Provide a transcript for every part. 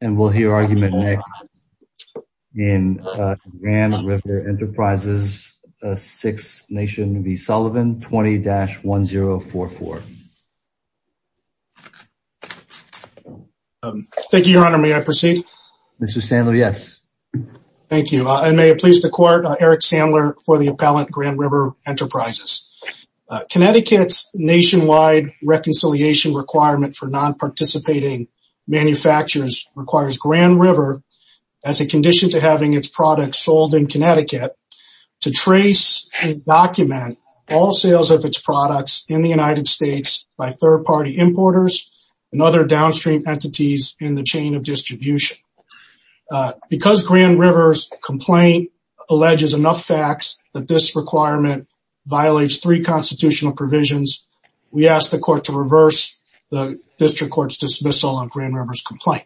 And we'll hear argument next in Grand River Enterprises Six Nation v. Sullivan 20-1044. Thank you, Your Honor. May I proceed? Mr. Sandler, yes. Thank you. I may have pleased the court, Eric Sandler for the appellant, Grand River Enterprises. Connecticut's nationwide reconciliation requirement for non-participating manufacturers requires Grand River, as a condition to having its products sold in Connecticut, to trace and document all sales of its products in the United States by third-party importers and other downstream entities in the chain of distribution. Because Grand River's complaint alleges enough facts that this requirement violates three constitutional provisions, we ask the court to reverse the district court's dismissal of Grand River's complaint.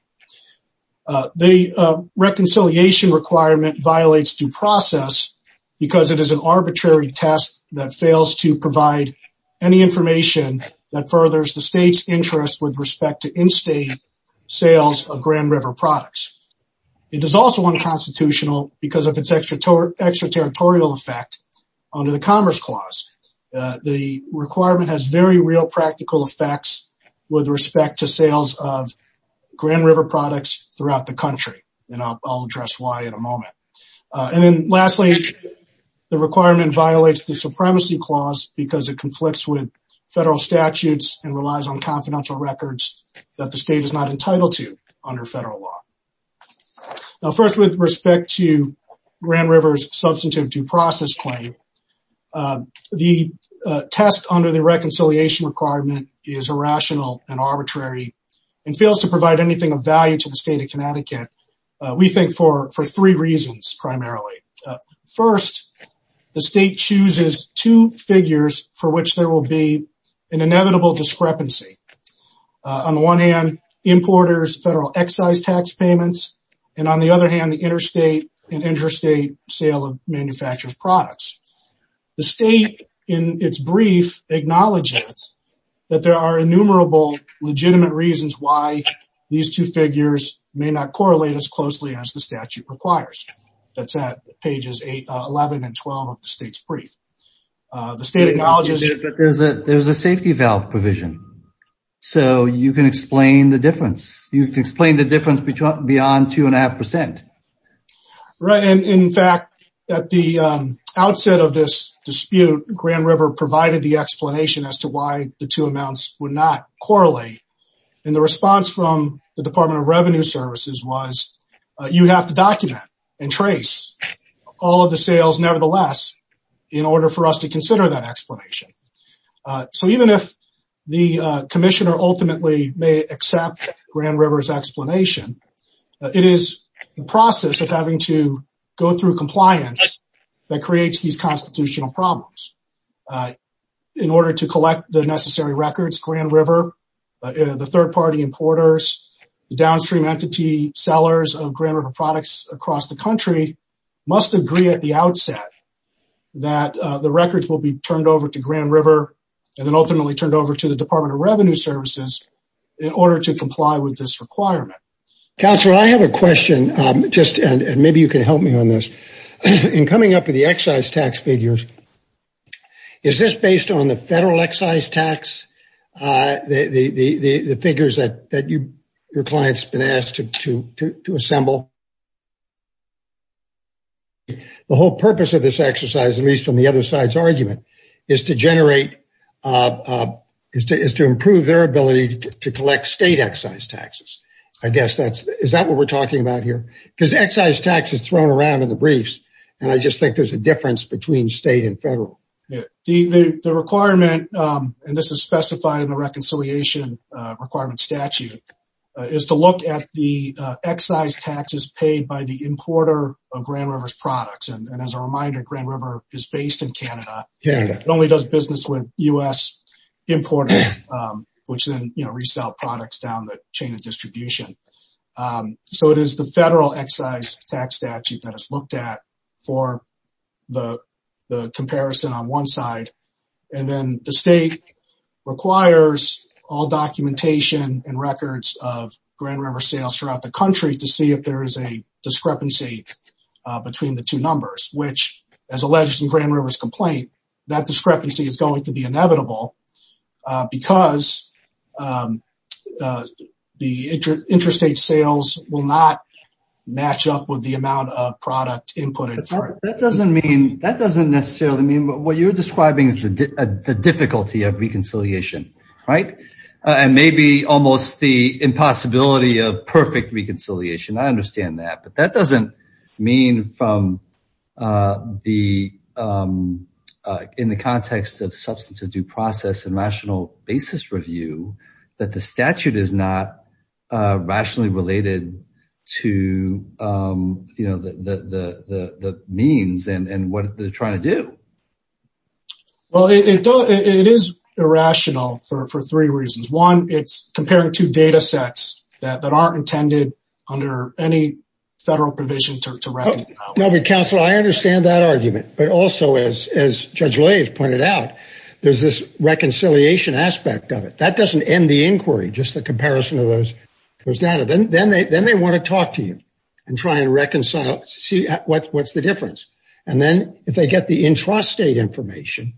The reconciliation requirement violates due process because it is an arbitrary test that fails to provide any information that furthers the state's interest with respect to in-state sales of Grand River products. It is also unconstitutional because of its extraterritorial effect under the Commerce Clause. The requirement has very real practical effects with respect to sales of Grand River products throughout the country. And I'll address why in a moment. And then lastly, the requirement violates the Supremacy Clause because it conflicts with federal statutes and relies on confidential records that the state is not entitled to under federal law. Now, first with respect to Grand River's substantive due process claim, the test under the reconciliation requirement is irrational and arbitrary and fails to provide anything of value to the state of Connecticut, we think for three reasons, primarily. First, the state chooses two figures for which there will be an inevitable discrepancy. On the one hand, importers, federal excise tax payments, and on the other hand, the interstate and interstate sale of manufactured products. The state in its brief acknowledges that there are innumerable legitimate reasons why these two figures may not correlate as closely as the statute requires. That's at pages 8, 11, and 12 of the state's brief. The state acknowledges that there's a safety valve provision. So you can explain the difference. You can explain the difference beyond two and a half percent. Right. And in fact, at the outset of this dispute, Grand River provided the explanation as to why the two amounts would not correlate. And the response from the Department of Revenue Services was, you have to document and trace all of the sales nevertheless, in order for us to consider that explanation. So even if the commissioner ultimately may accept Grand River's explanation, it is the process of having to go through compliance that creates these constitutional problems. In order to collect the necessary records, Grand River, the third party importers, the downstream entity sellers of Grand River products across the country, must agree at the outset that the records will be turned over to Grand River and then ultimately turned over to the Department of Revenue Services in order to comply with this requirement. Counselor, I have a question just, and maybe you can help me on this. In coming up with the excise tax figures, is this based on the federal excise tax? The figures that your client's been asked to assemble? The whole purpose of this exercise, at least on the other side's argument, is to generate, is to improve their ability to collect state excise taxes. I guess that's, is that what we're talking about here? Because excise tax is thrown around in the briefs, and I just think there's a difference between state and federal. The requirement, and this is specified in the reconciliation requirement statute, is to look at the excise taxes paid by the importer of Grand River's products. And as a reminder, Grand River is based in Canada. It only does business with US importers, which then, you know, resell products down the chain of distribution. So it is the federal excise tax statute that is looked at for the comparison on one side, and then the state requires all documentation and records of Grand River sales throughout the country to see if there is a discrepancy between the two That discrepancy is going to be inevitable because the interstate sales will not match up with the amount of product inputted. That doesn't mean, that doesn't necessarily mean, what you're describing is the difficulty of reconciliation, right? And maybe almost the impossibility of perfect reconciliation. I understand that, but that doesn't mean from the, in the context of substance of due process and rational basis review, that the statute is not rationally related to, you know, the means and what they're trying to do. Well, it is irrational for three reasons. One, it's comparing two data sets that aren't intended under any federal provision to recognize. No, but counsel, I understand that argument, but also as Judge Lay pointed out, there's this reconciliation aspect of it. That doesn't end the inquiry, just the comparison of those data. Then they want to talk to you and try and reconcile, see what's the difference. And then if they get the intrastate information,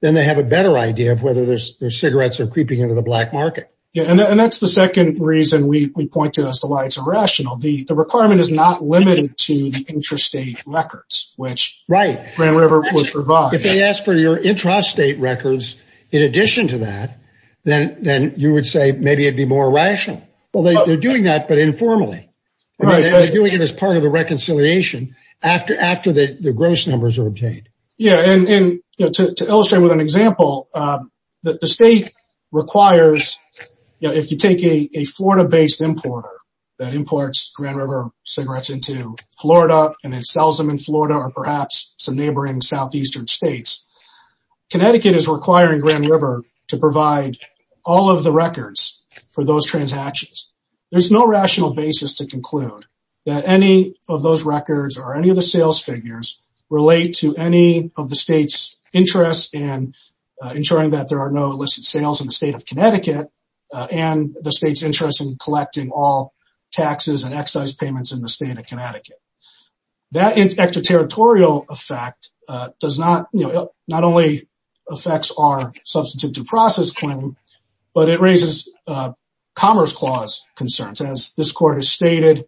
then they have a better idea of whether their cigarettes are creeping into the black market. Yeah. And that's the second reason we point to as to why it's irrational. The requirement is not limited to the intrastate records, which Grand River would provide. If they ask for your intrastate records, in addition to that, then you would say, maybe it'd be more rational. Well, they're doing that, but informally. Right. They're doing it as part of the reconciliation after the gross numbers are obtained. Yeah. And to illustrate with an example, the state requires, if you take a Florida based importer that imports Grand River cigarettes into Florida and then sells them in Florida or perhaps some neighboring Southeastern states, Connecticut is requiring Grand River to provide all of the records for those transactions. There's no rational basis to conclude that any of those records or any of the state's interest in ensuring that there are no illicit sales in the state of Connecticut and the state's interest in collecting all taxes and excise payments in the state of Connecticut. That extra territorial effect does not, you know, not only affects our substantive due process claim, but it raises commerce clause concerns. As this court has stated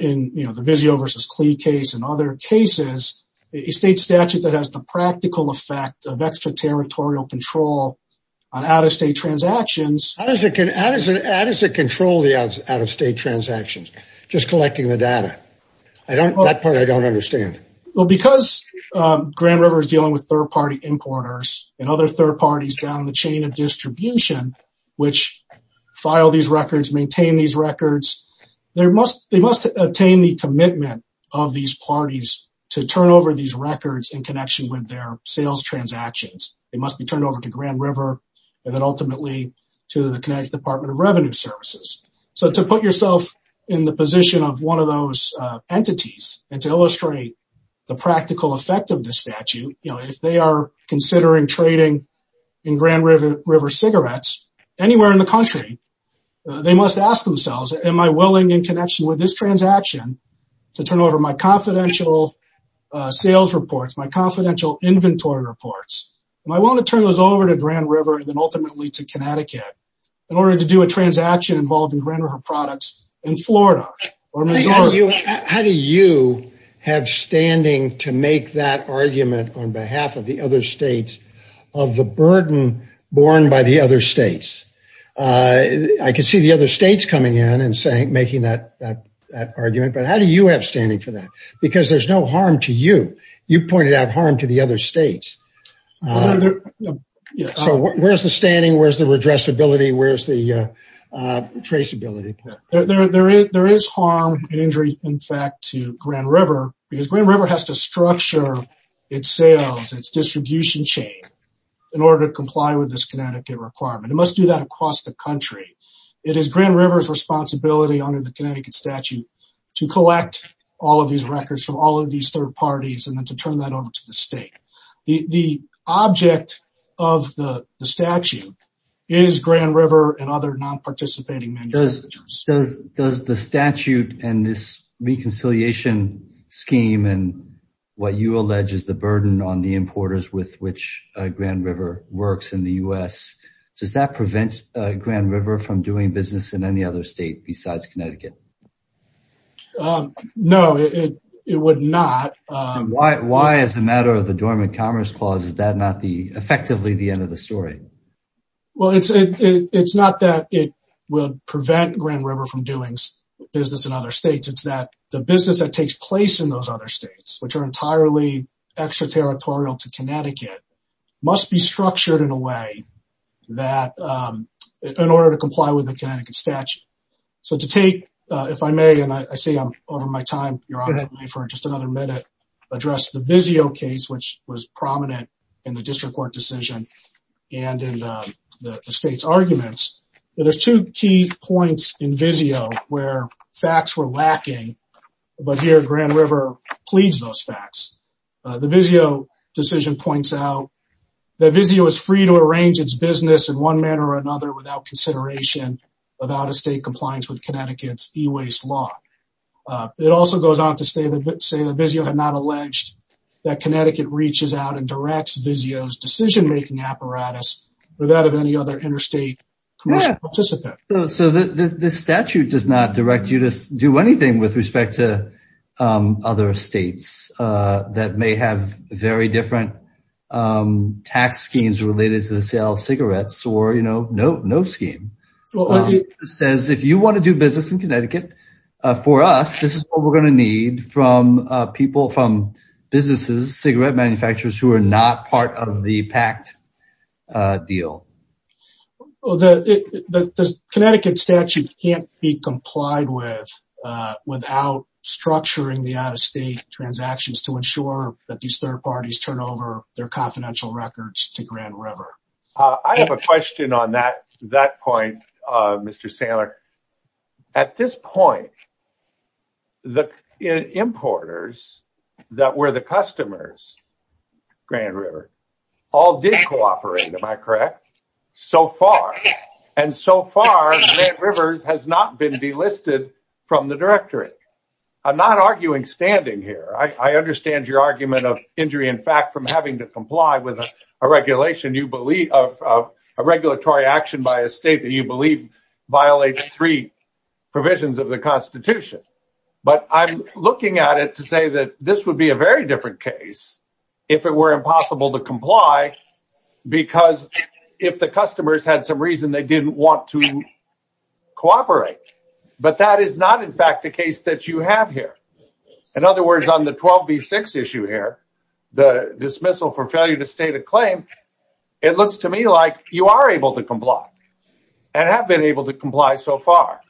in, you know, the Vizio versus Klee case and other cases, a state statute that has the practical effect of extra territorial control on out-of-state transactions. How does it control the out-of-state transactions? Just collecting the data. I don't, that part I don't understand. Well, because Grand River is dealing with third party importers and other third parties down the chain of distribution, which file these records, maintain these to turn over these records in connection with their sales transactions. They must be turned over to Grand River and then ultimately to the Connecticut Department of Revenue Services. So to put yourself in the position of one of those entities and to illustrate the practical effect of this statute, you know, if they are considering trading in Grand River cigarettes anywhere in the country, they must ask themselves, am I going to turn over my sales reports, my confidential inventory reports, and I want to turn those over to Grand River and then ultimately to Connecticut in order to do a transaction involved in Grand River products in Florida or Missouri. How do you have standing to make that argument on behalf of the other states of the burden borne by the other states? I can see the other states coming in and saying, making that argument, but how do you have standing for that? Because there's no harm to you. You pointed out harm to the other states. So where's the standing? Where's the addressability? Where's the traceability? There is harm and injury, in fact, to Grand River because Grand River has to structure its sales, its distribution chain in order to comply with this Connecticut requirement. It must do that across the country. It is Grand River's responsibility under the Connecticut statute to collect all of these records from all of these third parties and then to turn that over to the state. The object of the statute is Grand River and other non-participating manufacturers. Does the statute and this reconciliation scheme and what you allege is the burden on the importers with which Grand River works in the U.S., does that prevent Grand River from doing business in any other state besides Connecticut? No, it would not. Why, as a matter of the Dormant Commerce Clause, is that not effectively the end of the story? Well, it's not that it would prevent Grand River from doing business in other states. It's that the business that takes place in those other states, which are entirely extraterritorial to Connecticut, must be structured in a way that in order to comply with the Connecticut statute. So to take, if I may, and I see I'm over my time, Your Honor, for just another minute, address the Vizio case, which was prominent in the district court decision and in the state's arguments. There's two key points in Vizio where facts were lacking, but here Grand River pleads those facts. The Vizio decision points out that Vizio is free to arrange its business in one manner or another without consideration of out-of-state compliance with Connecticut's e-waste law. It also goes on to say that Vizio had not alleged that Connecticut reaches out and directs Vizio's decision-making apparatus without any other interstate commercial participant. So the statute does not direct you to do anything with respect to other states that may have very different tax schemes related to the sale of cigarettes or, you know, no scheme. It says if you want to do business in Connecticut for us, this is what we're going to need from people, from businesses, cigarette manufacturers who are not part of the pact deal. Well, the Connecticut statute can't be complied with without structuring the third parties turn over their confidential records to Grand River. I have a question on that point, Mr. Sandler. At this point, the importers that were the customers, Grand River, all did cooperate. Am I correct? So far, and so far, Grand River has not been delisted from the directory. I'm not arguing standing here. I understand your argument of injury, in fact, from having to comply with a regulation, you believe, of a regulatory action by a state that you believe violates three provisions of the Constitution. But I'm looking at it to say that this would be a very different case if it were impossible to comply, because if the customers had some reason, they didn't want to cooperate. But that is not, in fact, the case that you have here. In other words, on the 12B6 issue here, the dismissal for failure to state a claim, it looks to me like you are able to comply and have been able to comply so far.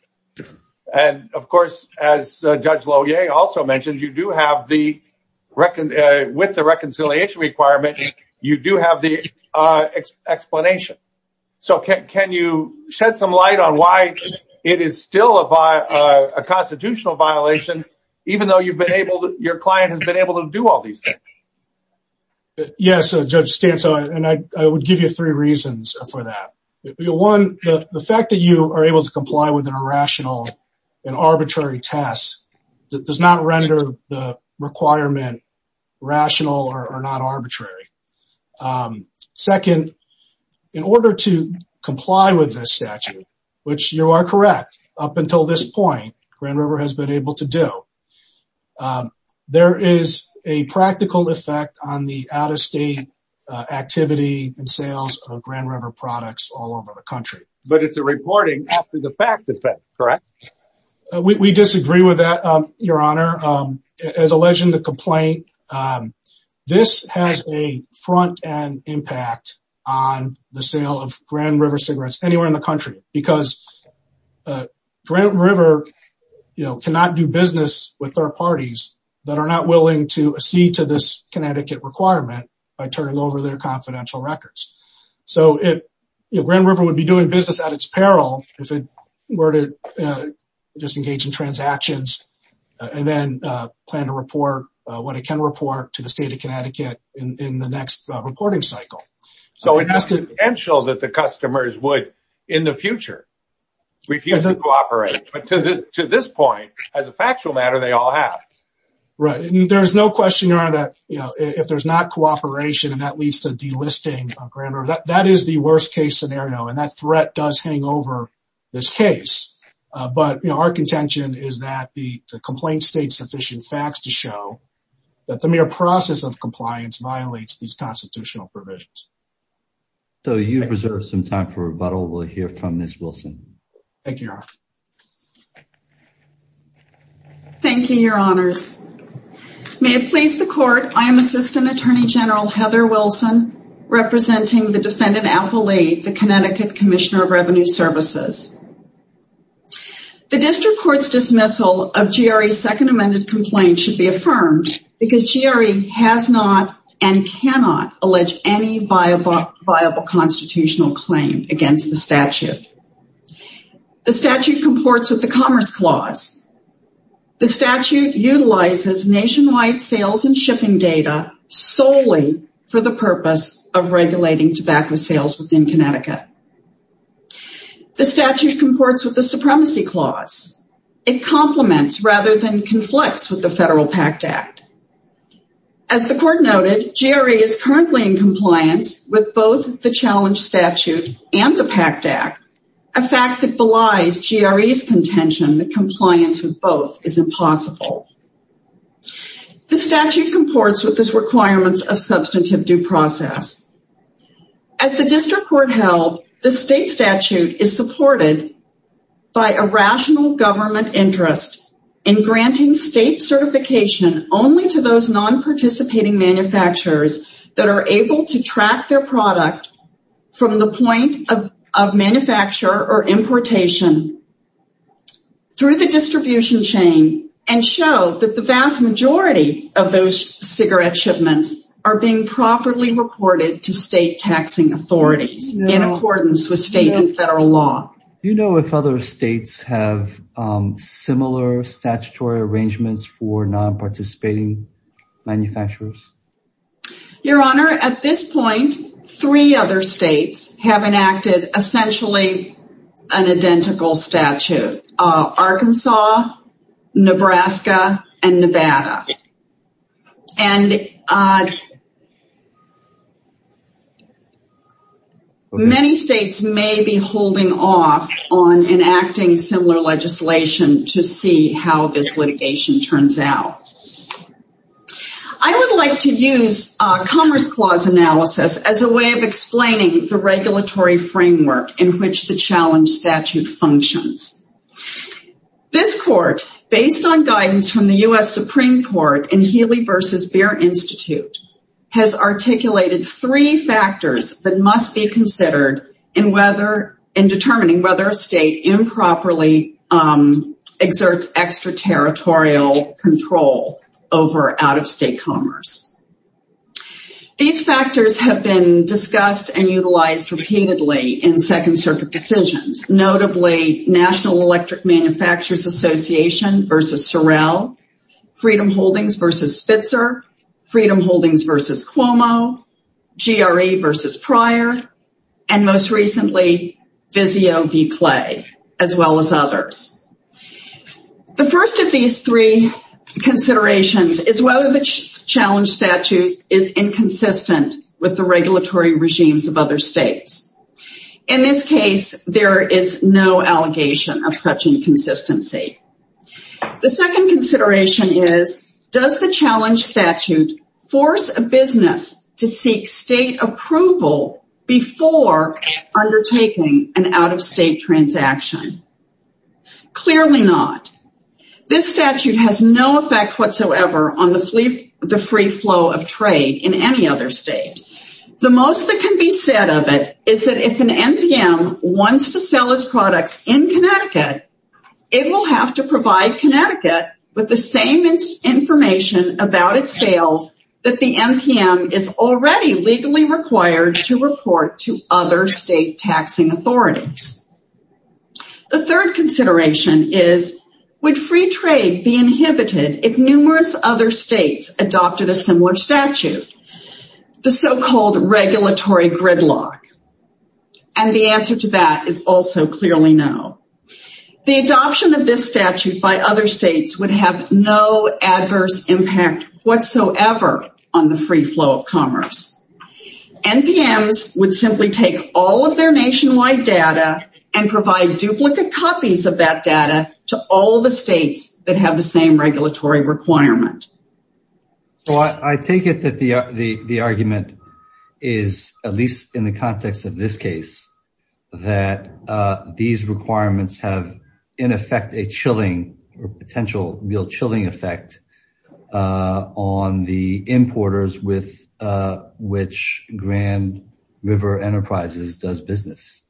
And of course, as Judge Loewe also mentioned, you do have the, with the reconciliation requirement, you do have the explanation. So can you shed some light on why it is still a constitutional violation, even though you've been able, your client has been able to do all these things? Yes, Judge Stanco, and I would give you three reasons for that. One, the fact that you are able to comply with an irrational and arbitrary test does not render the requirement rational or not arbitrary. Second, in order to comply with this statute, which you are correct, up until this point, Grand River has been able to do, there is a practical effect on the out-of-state activity and sales of Grand River products all over the country. But it's a reporting after the fact effect, correct? We disagree with that, Your Honor. As alleged in the complaint, this has a front-end impact on the sale of Grand River cigarettes anywhere in the country, because Grand River cannot do business with third parties that are not willing to accede to this Connecticut requirement by turning over their confidential records. So Grand River would be doing business at its peril if it were to just engage in plan to report what it can report to the state of Connecticut in the next reporting cycle. So it's just a potential that the customers would, in the future, refuse to cooperate. But to this point, as a factual matter, they all have. There's no question, Your Honor, that if there's not cooperation and that leads to delisting of Grand River, that is the worst case scenario. And that threat does hang over this case. But our contention is that the complaint states sufficient facts to show that the mere process of compliance violates these constitutional provisions. So you've reserved some time for rebuttal. We'll hear from Ms. Wilson. Thank you, Your Honor. Thank you, Your Honors. May it please the Court, I am Assistant Attorney General Heather Wilson, representing the defendant, Apple Lee, the Connecticut Commissioner of Revenue Services. The district court's dismissal of GRE's second amended complaint should be affirmed because GRE has not and cannot allege any viable constitutional claim against the statute. The statute comports with the Commerce Clause. The statute utilizes nationwide sales and shipping data solely for the purpose of regulating tobacco sales within Connecticut. The statute comports with the Supremacy Clause. It complements rather than conflicts with the Federal Pact Act. As the Court noted, GRE is currently in compliance with both the challenge statute and the Pact Act, a fact that belies GRE's contention that compliance with both is impossible. The statute comports with its requirements of substantive due process. As the district court held, the state statute is supported by a rational government interest in granting state certification only to those non-participating manufacturers that are able to track their product from the point of manufacture or importation through the distribution chain and show that the vast majority of those cigarette shipments are being properly reported to state taxing authorities in accordance with state and federal law. Do you know if other states have similar statutory arrangements for non-participating manufacturers? Your Honor, at this point, three other states have enacted essentially an identical statute. Arkansas, Nebraska, and Nevada. And many states may be holding off on enacting similar legislation to see how this litigation turns out. I would like to use Commerce Clause Analysis as a way of explaining the regulatory framework in which the challenge statute functions. This court, based on guidance from the U.S. Supreme Court and Healey v. Beer Institute, has articulated three factors that must be considered in determining whether a state improperly exerts extraterritorial control over out-of-state commerce. These factors have been discussed and utilized repeatedly in Second Circuit decisions, notably National Electric Manufacturers Association v. Sorrell, Freedom Holdings v. Spitzer, Freedom Holdings v. Cuomo, GRE v. Pryor, and most recently, Vizio v. Clay, as well as others. The first of these three considerations is whether the challenge statute is inconsistent with the regulatory regimes of other states. In this case, there is no allegation of such inconsistency. The second consideration is, does the challenge statute force a business to seek state approval before undertaking an out-of-state transaction? Clearly not. This statute has no effect whatsoever on the free flow of trade in any other state. The most that can be said of it is that if an NPM wants to sell its products in Connecticut, it will have to provide Connecticut with the same information about its sales that the NPM is already legally required to report to other state taxing authorities. The third consideration is, would free trade be inhibited if numerous other states adopted a similar statute? The so-called regulatory gridlock. And the answer to that is also clearly no. The adoption of this statute by other states would have no adverse impact whatsoever on the free flow of commerce. NPMs would simply take all of their nationwide data and provide duplicate copies of that data to all of the states that have the same regulatory requirement. So I take it that the argument is, at least in the context of this case, that these requirements have in effect a chilling or potential real chilling effect on the importers with which Grand River Enterprises does business.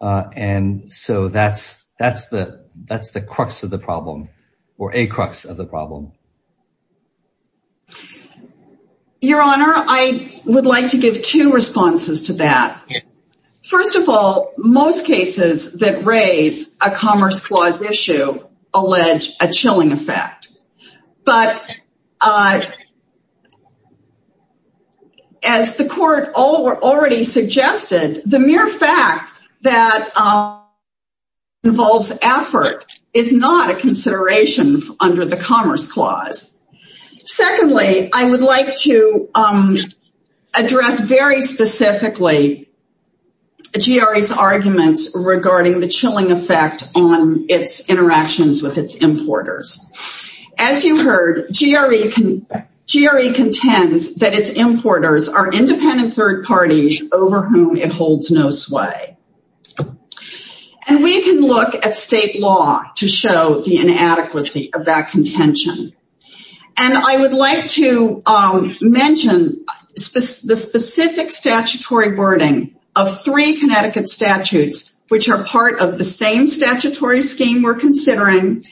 And so that's the crux of the problem or a crux of the problem. Your Honor, I would like to give two responses to that. First of all, most cases that raise a Commerce Clause issue allege a chilling effect. But as the court already suggested, the mere fact that involves effort is not a consideration under the Commerce Clause. Secondly, I would like to address very specifically GRE's arguments regarding the chilling effect on its interactions with its importers. As you heard, GRE contends that its importers are independent third parties over whom it holds no sway. And we can look at state law to show the inadequacy of that contention. And I would like to mention the specific statutory wording of three Connecticut statutes, which are part of the same statutory scheme we're considering.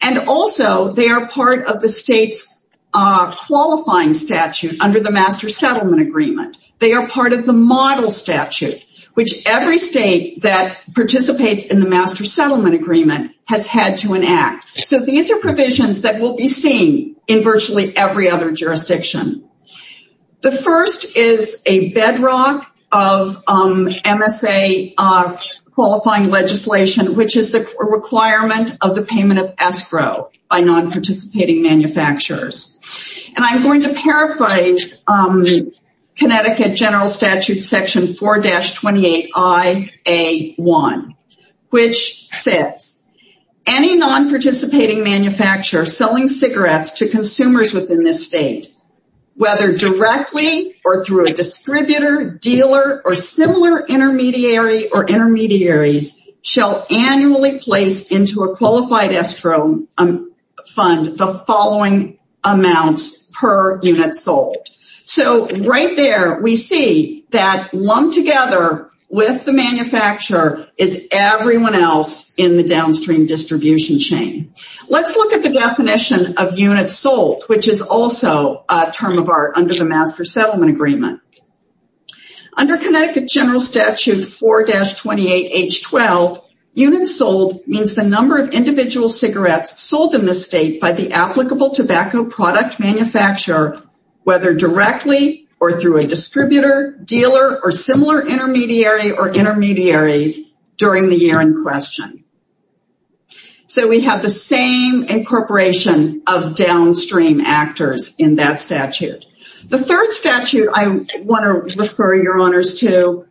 And also, they are part of the state's qualifying statute under the Master Settlement Agreement. They are part of the model statute, which every state that participates in the Master Settlement Agreement has had to enact. So these are provisions that will be seen in virtually every other jurisdiction. The first is a bedrock of MSA qualifying legislation, which is the requirement of the payment of escrow by non-participating manufacturers. And I'm going to paraphrase Connecticut General Statute Section 4-28iA1, which says, any non-participating manufacturer selling cigarettes to consumers within this state, whether directly or through a distributor, dealer, or similar intermediary or intermediaries, shall annually place into a qualified escrow fund the following amounts per unit sold. So right there, we see that lumped together with the manufacturer is everyone else in the downstream distribution chain. Let's look at the definition of units sold, which is also a term of art under the Master Settlement Agreement. Under Connecticut General Statute 4-28h12, units sold means the number of individual cigarettes sold in the state by the applicable tobacco product manufacturer, whether directly or through a distributor, dealer, or similar intermediary or intermediaries during the year in question. So we have the same incorporation of downstream actors in that statute. The third statute I want to refer your honors to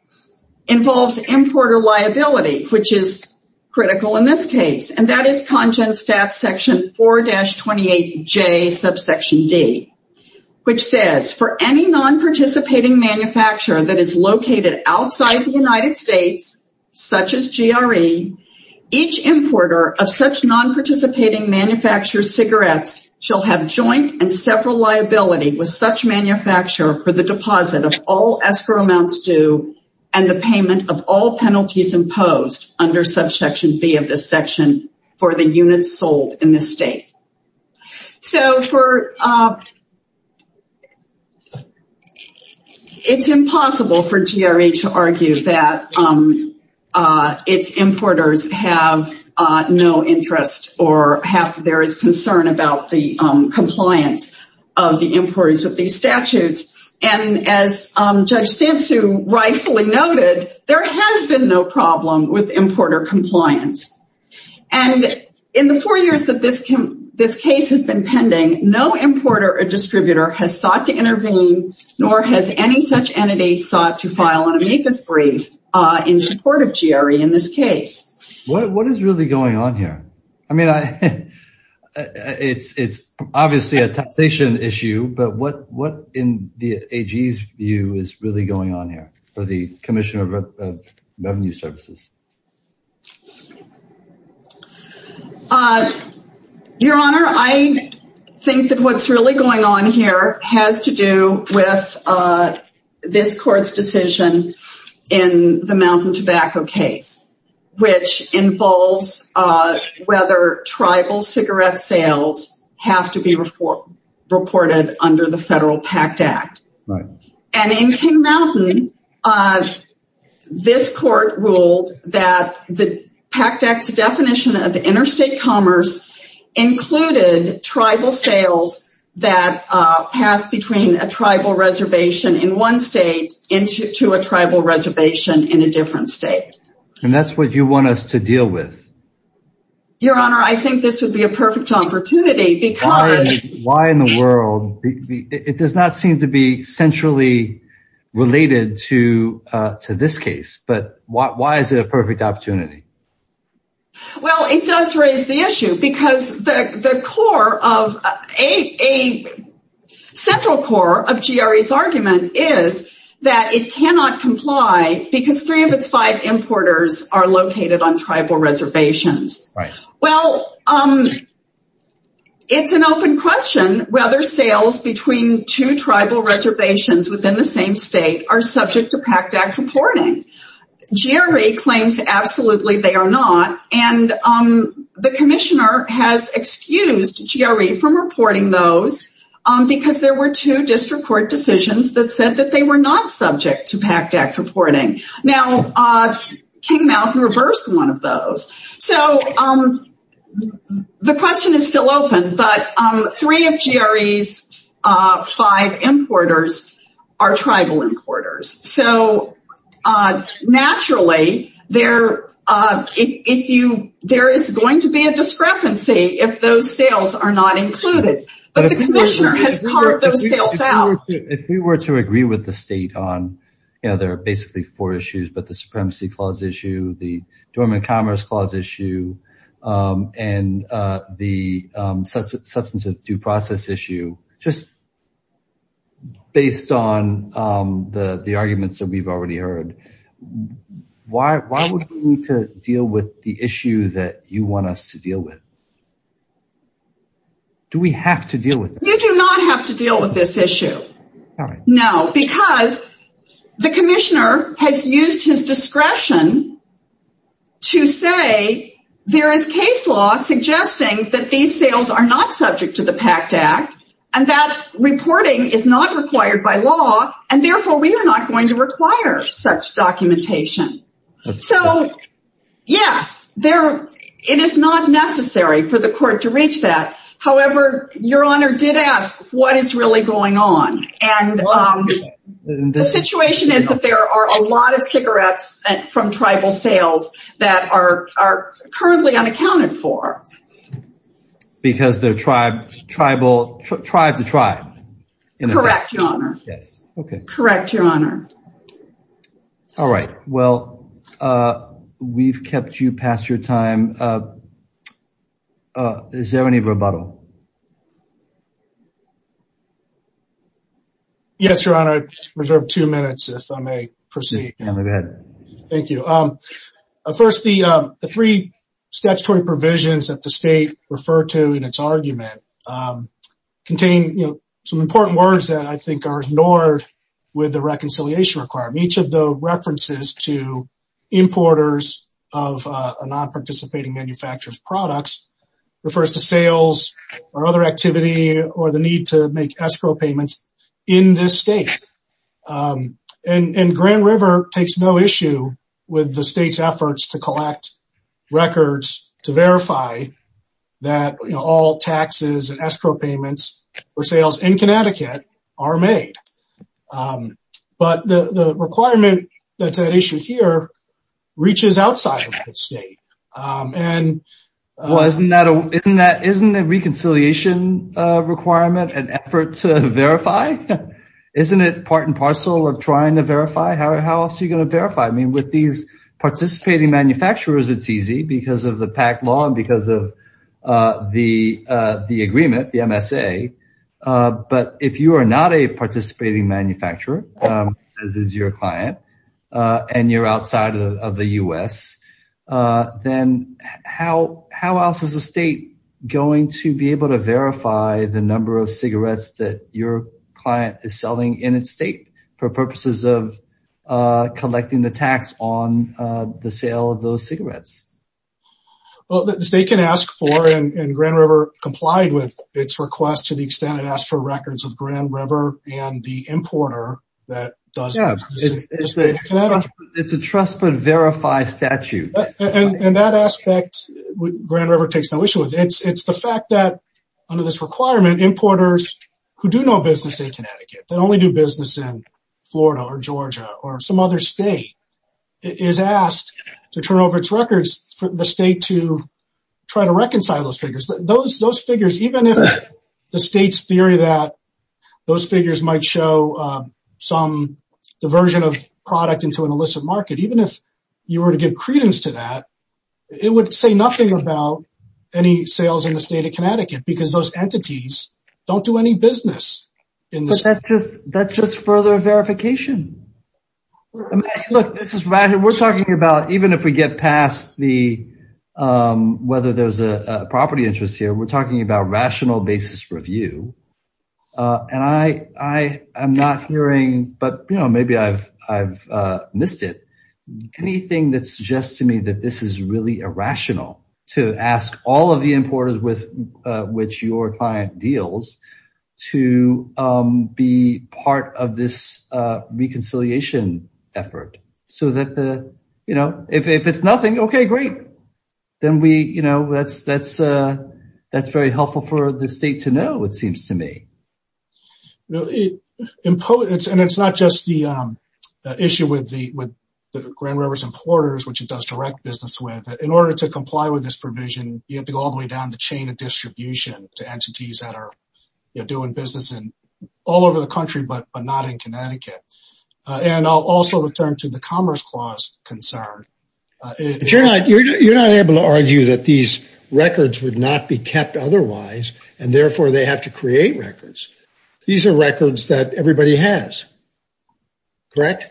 involves importer liability, which is critical in this case, and that is Congen Stat. Section 4-28j, subsection D, which says, for any non-participating manufacturer that is importer of such non-participating manufacturer cigarettes shall have joint and several liability with such manufacturer for the deposit of all escrow amounts due and the payment of all penalties imposed under subsection B of this section for the units sold in the state. So it's impossible for GRE to argue that its importers have no interest or there is concern about the compliance of the importers with these statutes. And as Judge Stansu rightfully noted, there has been no problem with importer compliance. And in the four years that this case has been pending, no importer or distributor has sought to intervene, nor has any such entity sought to file an amicus brief in support of GRE in this case. What is really going on here? I mean, it's obviously a taxation issue, but what in the AG's view is really going on here for the Commissioner of Revenue Services? Your Honor, I think that what's really going on here has to do with this court's decision in the Mountain Tobacco case, which involves whether tribal cigarette sales have to be reported under the Federal Pact Act. And in King Mountain, this court ruled that the Pact Act's definition of interstate commerce included tribal sales that pass between a tribal reservation in one state into a tribal reservation in a different state. And that's what you want us to deal with? Your Honor, I think this would be a perfect opportunity because... Why in the world? It does not seem to be centrally related to this case, but why is it a perfect opportunity? Well, it does raise the issue because the core of a central core of GRE's argument is that it cannot comply because three of its five importers are located on tribal reservations. Well, it's an open question whether sales between two tribal reservations within the same state are subject to Pact Act reporting. GRE claims absolutely they are not, and the Commissioner has excused GRE from reporting those because there were two district court decisions that said that they were not subject to Pact Act reporting. Now, King Mountain reversed one of those. So, the question is still open, but three of GRE's five importers are tribal importers. So, naturally, there is going to be a discrepancy if those sales are not included. But the Commissioner has carved those sales out. If we were to agree with the state on, you know, there are basically four issues, but issue and the substance of due process issue, just based on the arguments that we've already heard, why would we need to deal with the issue that you want us to deal with? Do we have to deal with it? You do not have to deal with this issue. No, because the Commissioner has used his discretion to say there is case law suggesting that these sales are not subject to the Pact Act and that reporting is not required by law and therefore we are not going to require such documentation. So, yes, it is not necessary for the court to reach that. However, Your Honor did ask what is really going on and the situation is that there are a lot of cigarettes from tribal sales that are currently unaccounted for. Because they're tribe to tribe. Correct, Your Honor. Correct, Your Honor. All right. Well, we've kept you past your time. Is there any rebuttal? Yes, Your Honor. I reserve two minutes if I may proceed. Thank you. First, the three statutory provisions that the state referred to in its argument contain some important words that I think are ignored with the reconciliation requirement. Each of the references to importers of non-participating manufacturers products refers to sales or other activity or the need to make escrow payments in this state. And Grand River takes no issue with the state's efforts to collect records to verify that all taxes and escrow payments for sales in Connecticut are made. But the requirement that's at issue here reaches outside of the state and... Well, isn't the reconciliation requirement an effort to verify? Isn't it part and parcel of trying to verify? How else are you going to verify? I mean, with these participating manufacturers, it's easy because of the PAC law and because of the agreement, the MSA. But if you are not a participating manufacturer, as is your client, and you're outside of the U.S., then how else is the state going to be able to verify the number of cigarettes that your client is selling in its state for purposes of collecting the tax on the sale of those cigarettes? Well, the state can ask for, and Grand River complied with its request to the extent it asked for records of Grand River and the importer that does... Yeah, it's a trust but verify statute. And that aspect, Grand River takes no issue with. It's the fact that under this requirement, importers who do no business in Connecticut, that only do business in Florida or Georgia or some other state, is asked to turn over its records for the state to try to reconcile those figures. Those figures, even if the state's theory that those figures might show some diversion of product into an illicit market, even if you were to give credence to that, it would say nothing about any sales in the state of Connecticut because those entities don't do any business in this... But that's just further verification. Look, we're talking about, even if we get past whether there's a property interest here, we're talking about rational basis review. And I am not hearing, but maybe I've missed it, anything that suggests to me that this is really irrational to ask all of the importers with which your client deals to be part of this reconciliation effort. So that if it's nothing, okay, great. Then that's very helpful for the state to know, it seems to me. And it's not just the issue with the Grand River's importers, which it does direct business with. In order to comply with this provision, you have to go all the way down the chain of distribution to entities that are doing business all over the country, but not in Connecticut. And I'll also return to the Commerce Clause concern. You're not able to argue that these records would not be kept otherwise, and therefore they have to create records. These are records that everybody has, correct?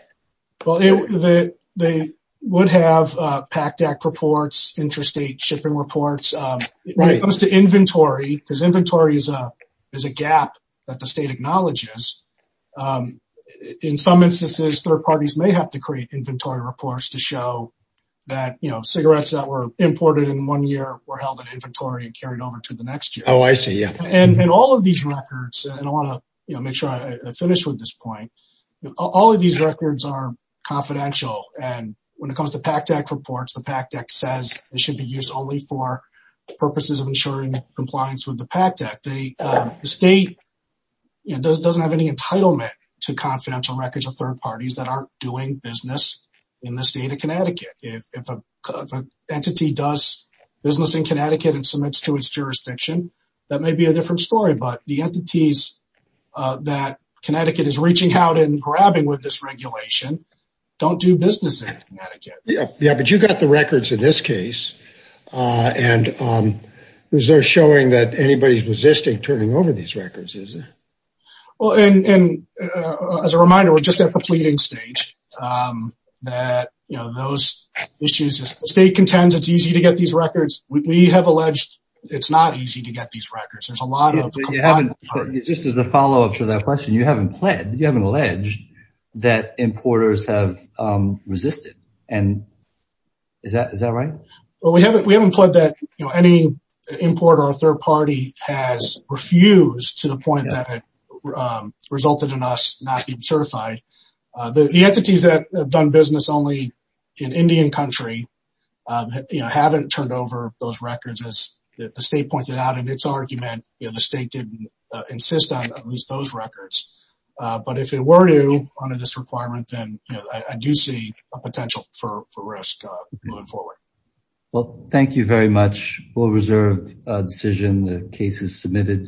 Well, they would have PACDAC reports, interstate shipping reports, as opposed to inventory, because inventory is a gap that the state acknowledges. In some instances, third parties may have to create inventory reports to show that cigarettes that were imported in one year were held in inventory and carried over to the next year. Oh, I see, yeah. And all of these records, and I want to make sure I finish with this point, all of these records are confidential. And when it comes to PACDAC reports, the PACDAC says it should be used only for purposes of ensuring compliance with the PACDAC. The state doesn't have any entitlement to confidential records of third parties that aren't doing business in the state of Connecticut. If an entity does business in Connecticut and submits to its jurisdiction, that may be a different story. But the entities that Connecticut is reaching out and grabbing with this regulation don't do business in Connecticut. Yeah, but you got the records in this case, and is there showing that anybody's resisting turning over these records, is there? Well, and as a reminder, we're just at the pleading stage. That, you know, those issues, the state contends it's easy to get these records. We have alleged it's not easy to get these records. There's a lot of... Just as a follow-up to that question, you haven't pledged, you haven't alleged that importers have resisted. And is that right? Well, we haven't pledged that, you know, any importer or third party has refused to the point that it resulted in us not being certified. The entities that have done business only in Indian country, you know, haven't turned over those records. As the state pointed out in its argument, you know, the state didn't insist on at least those records. But if it were to, under this requirement, then, you know, I do see a potential for risk moving forward. Well, thank you very much. We'll reserve a decision. The case is submitted.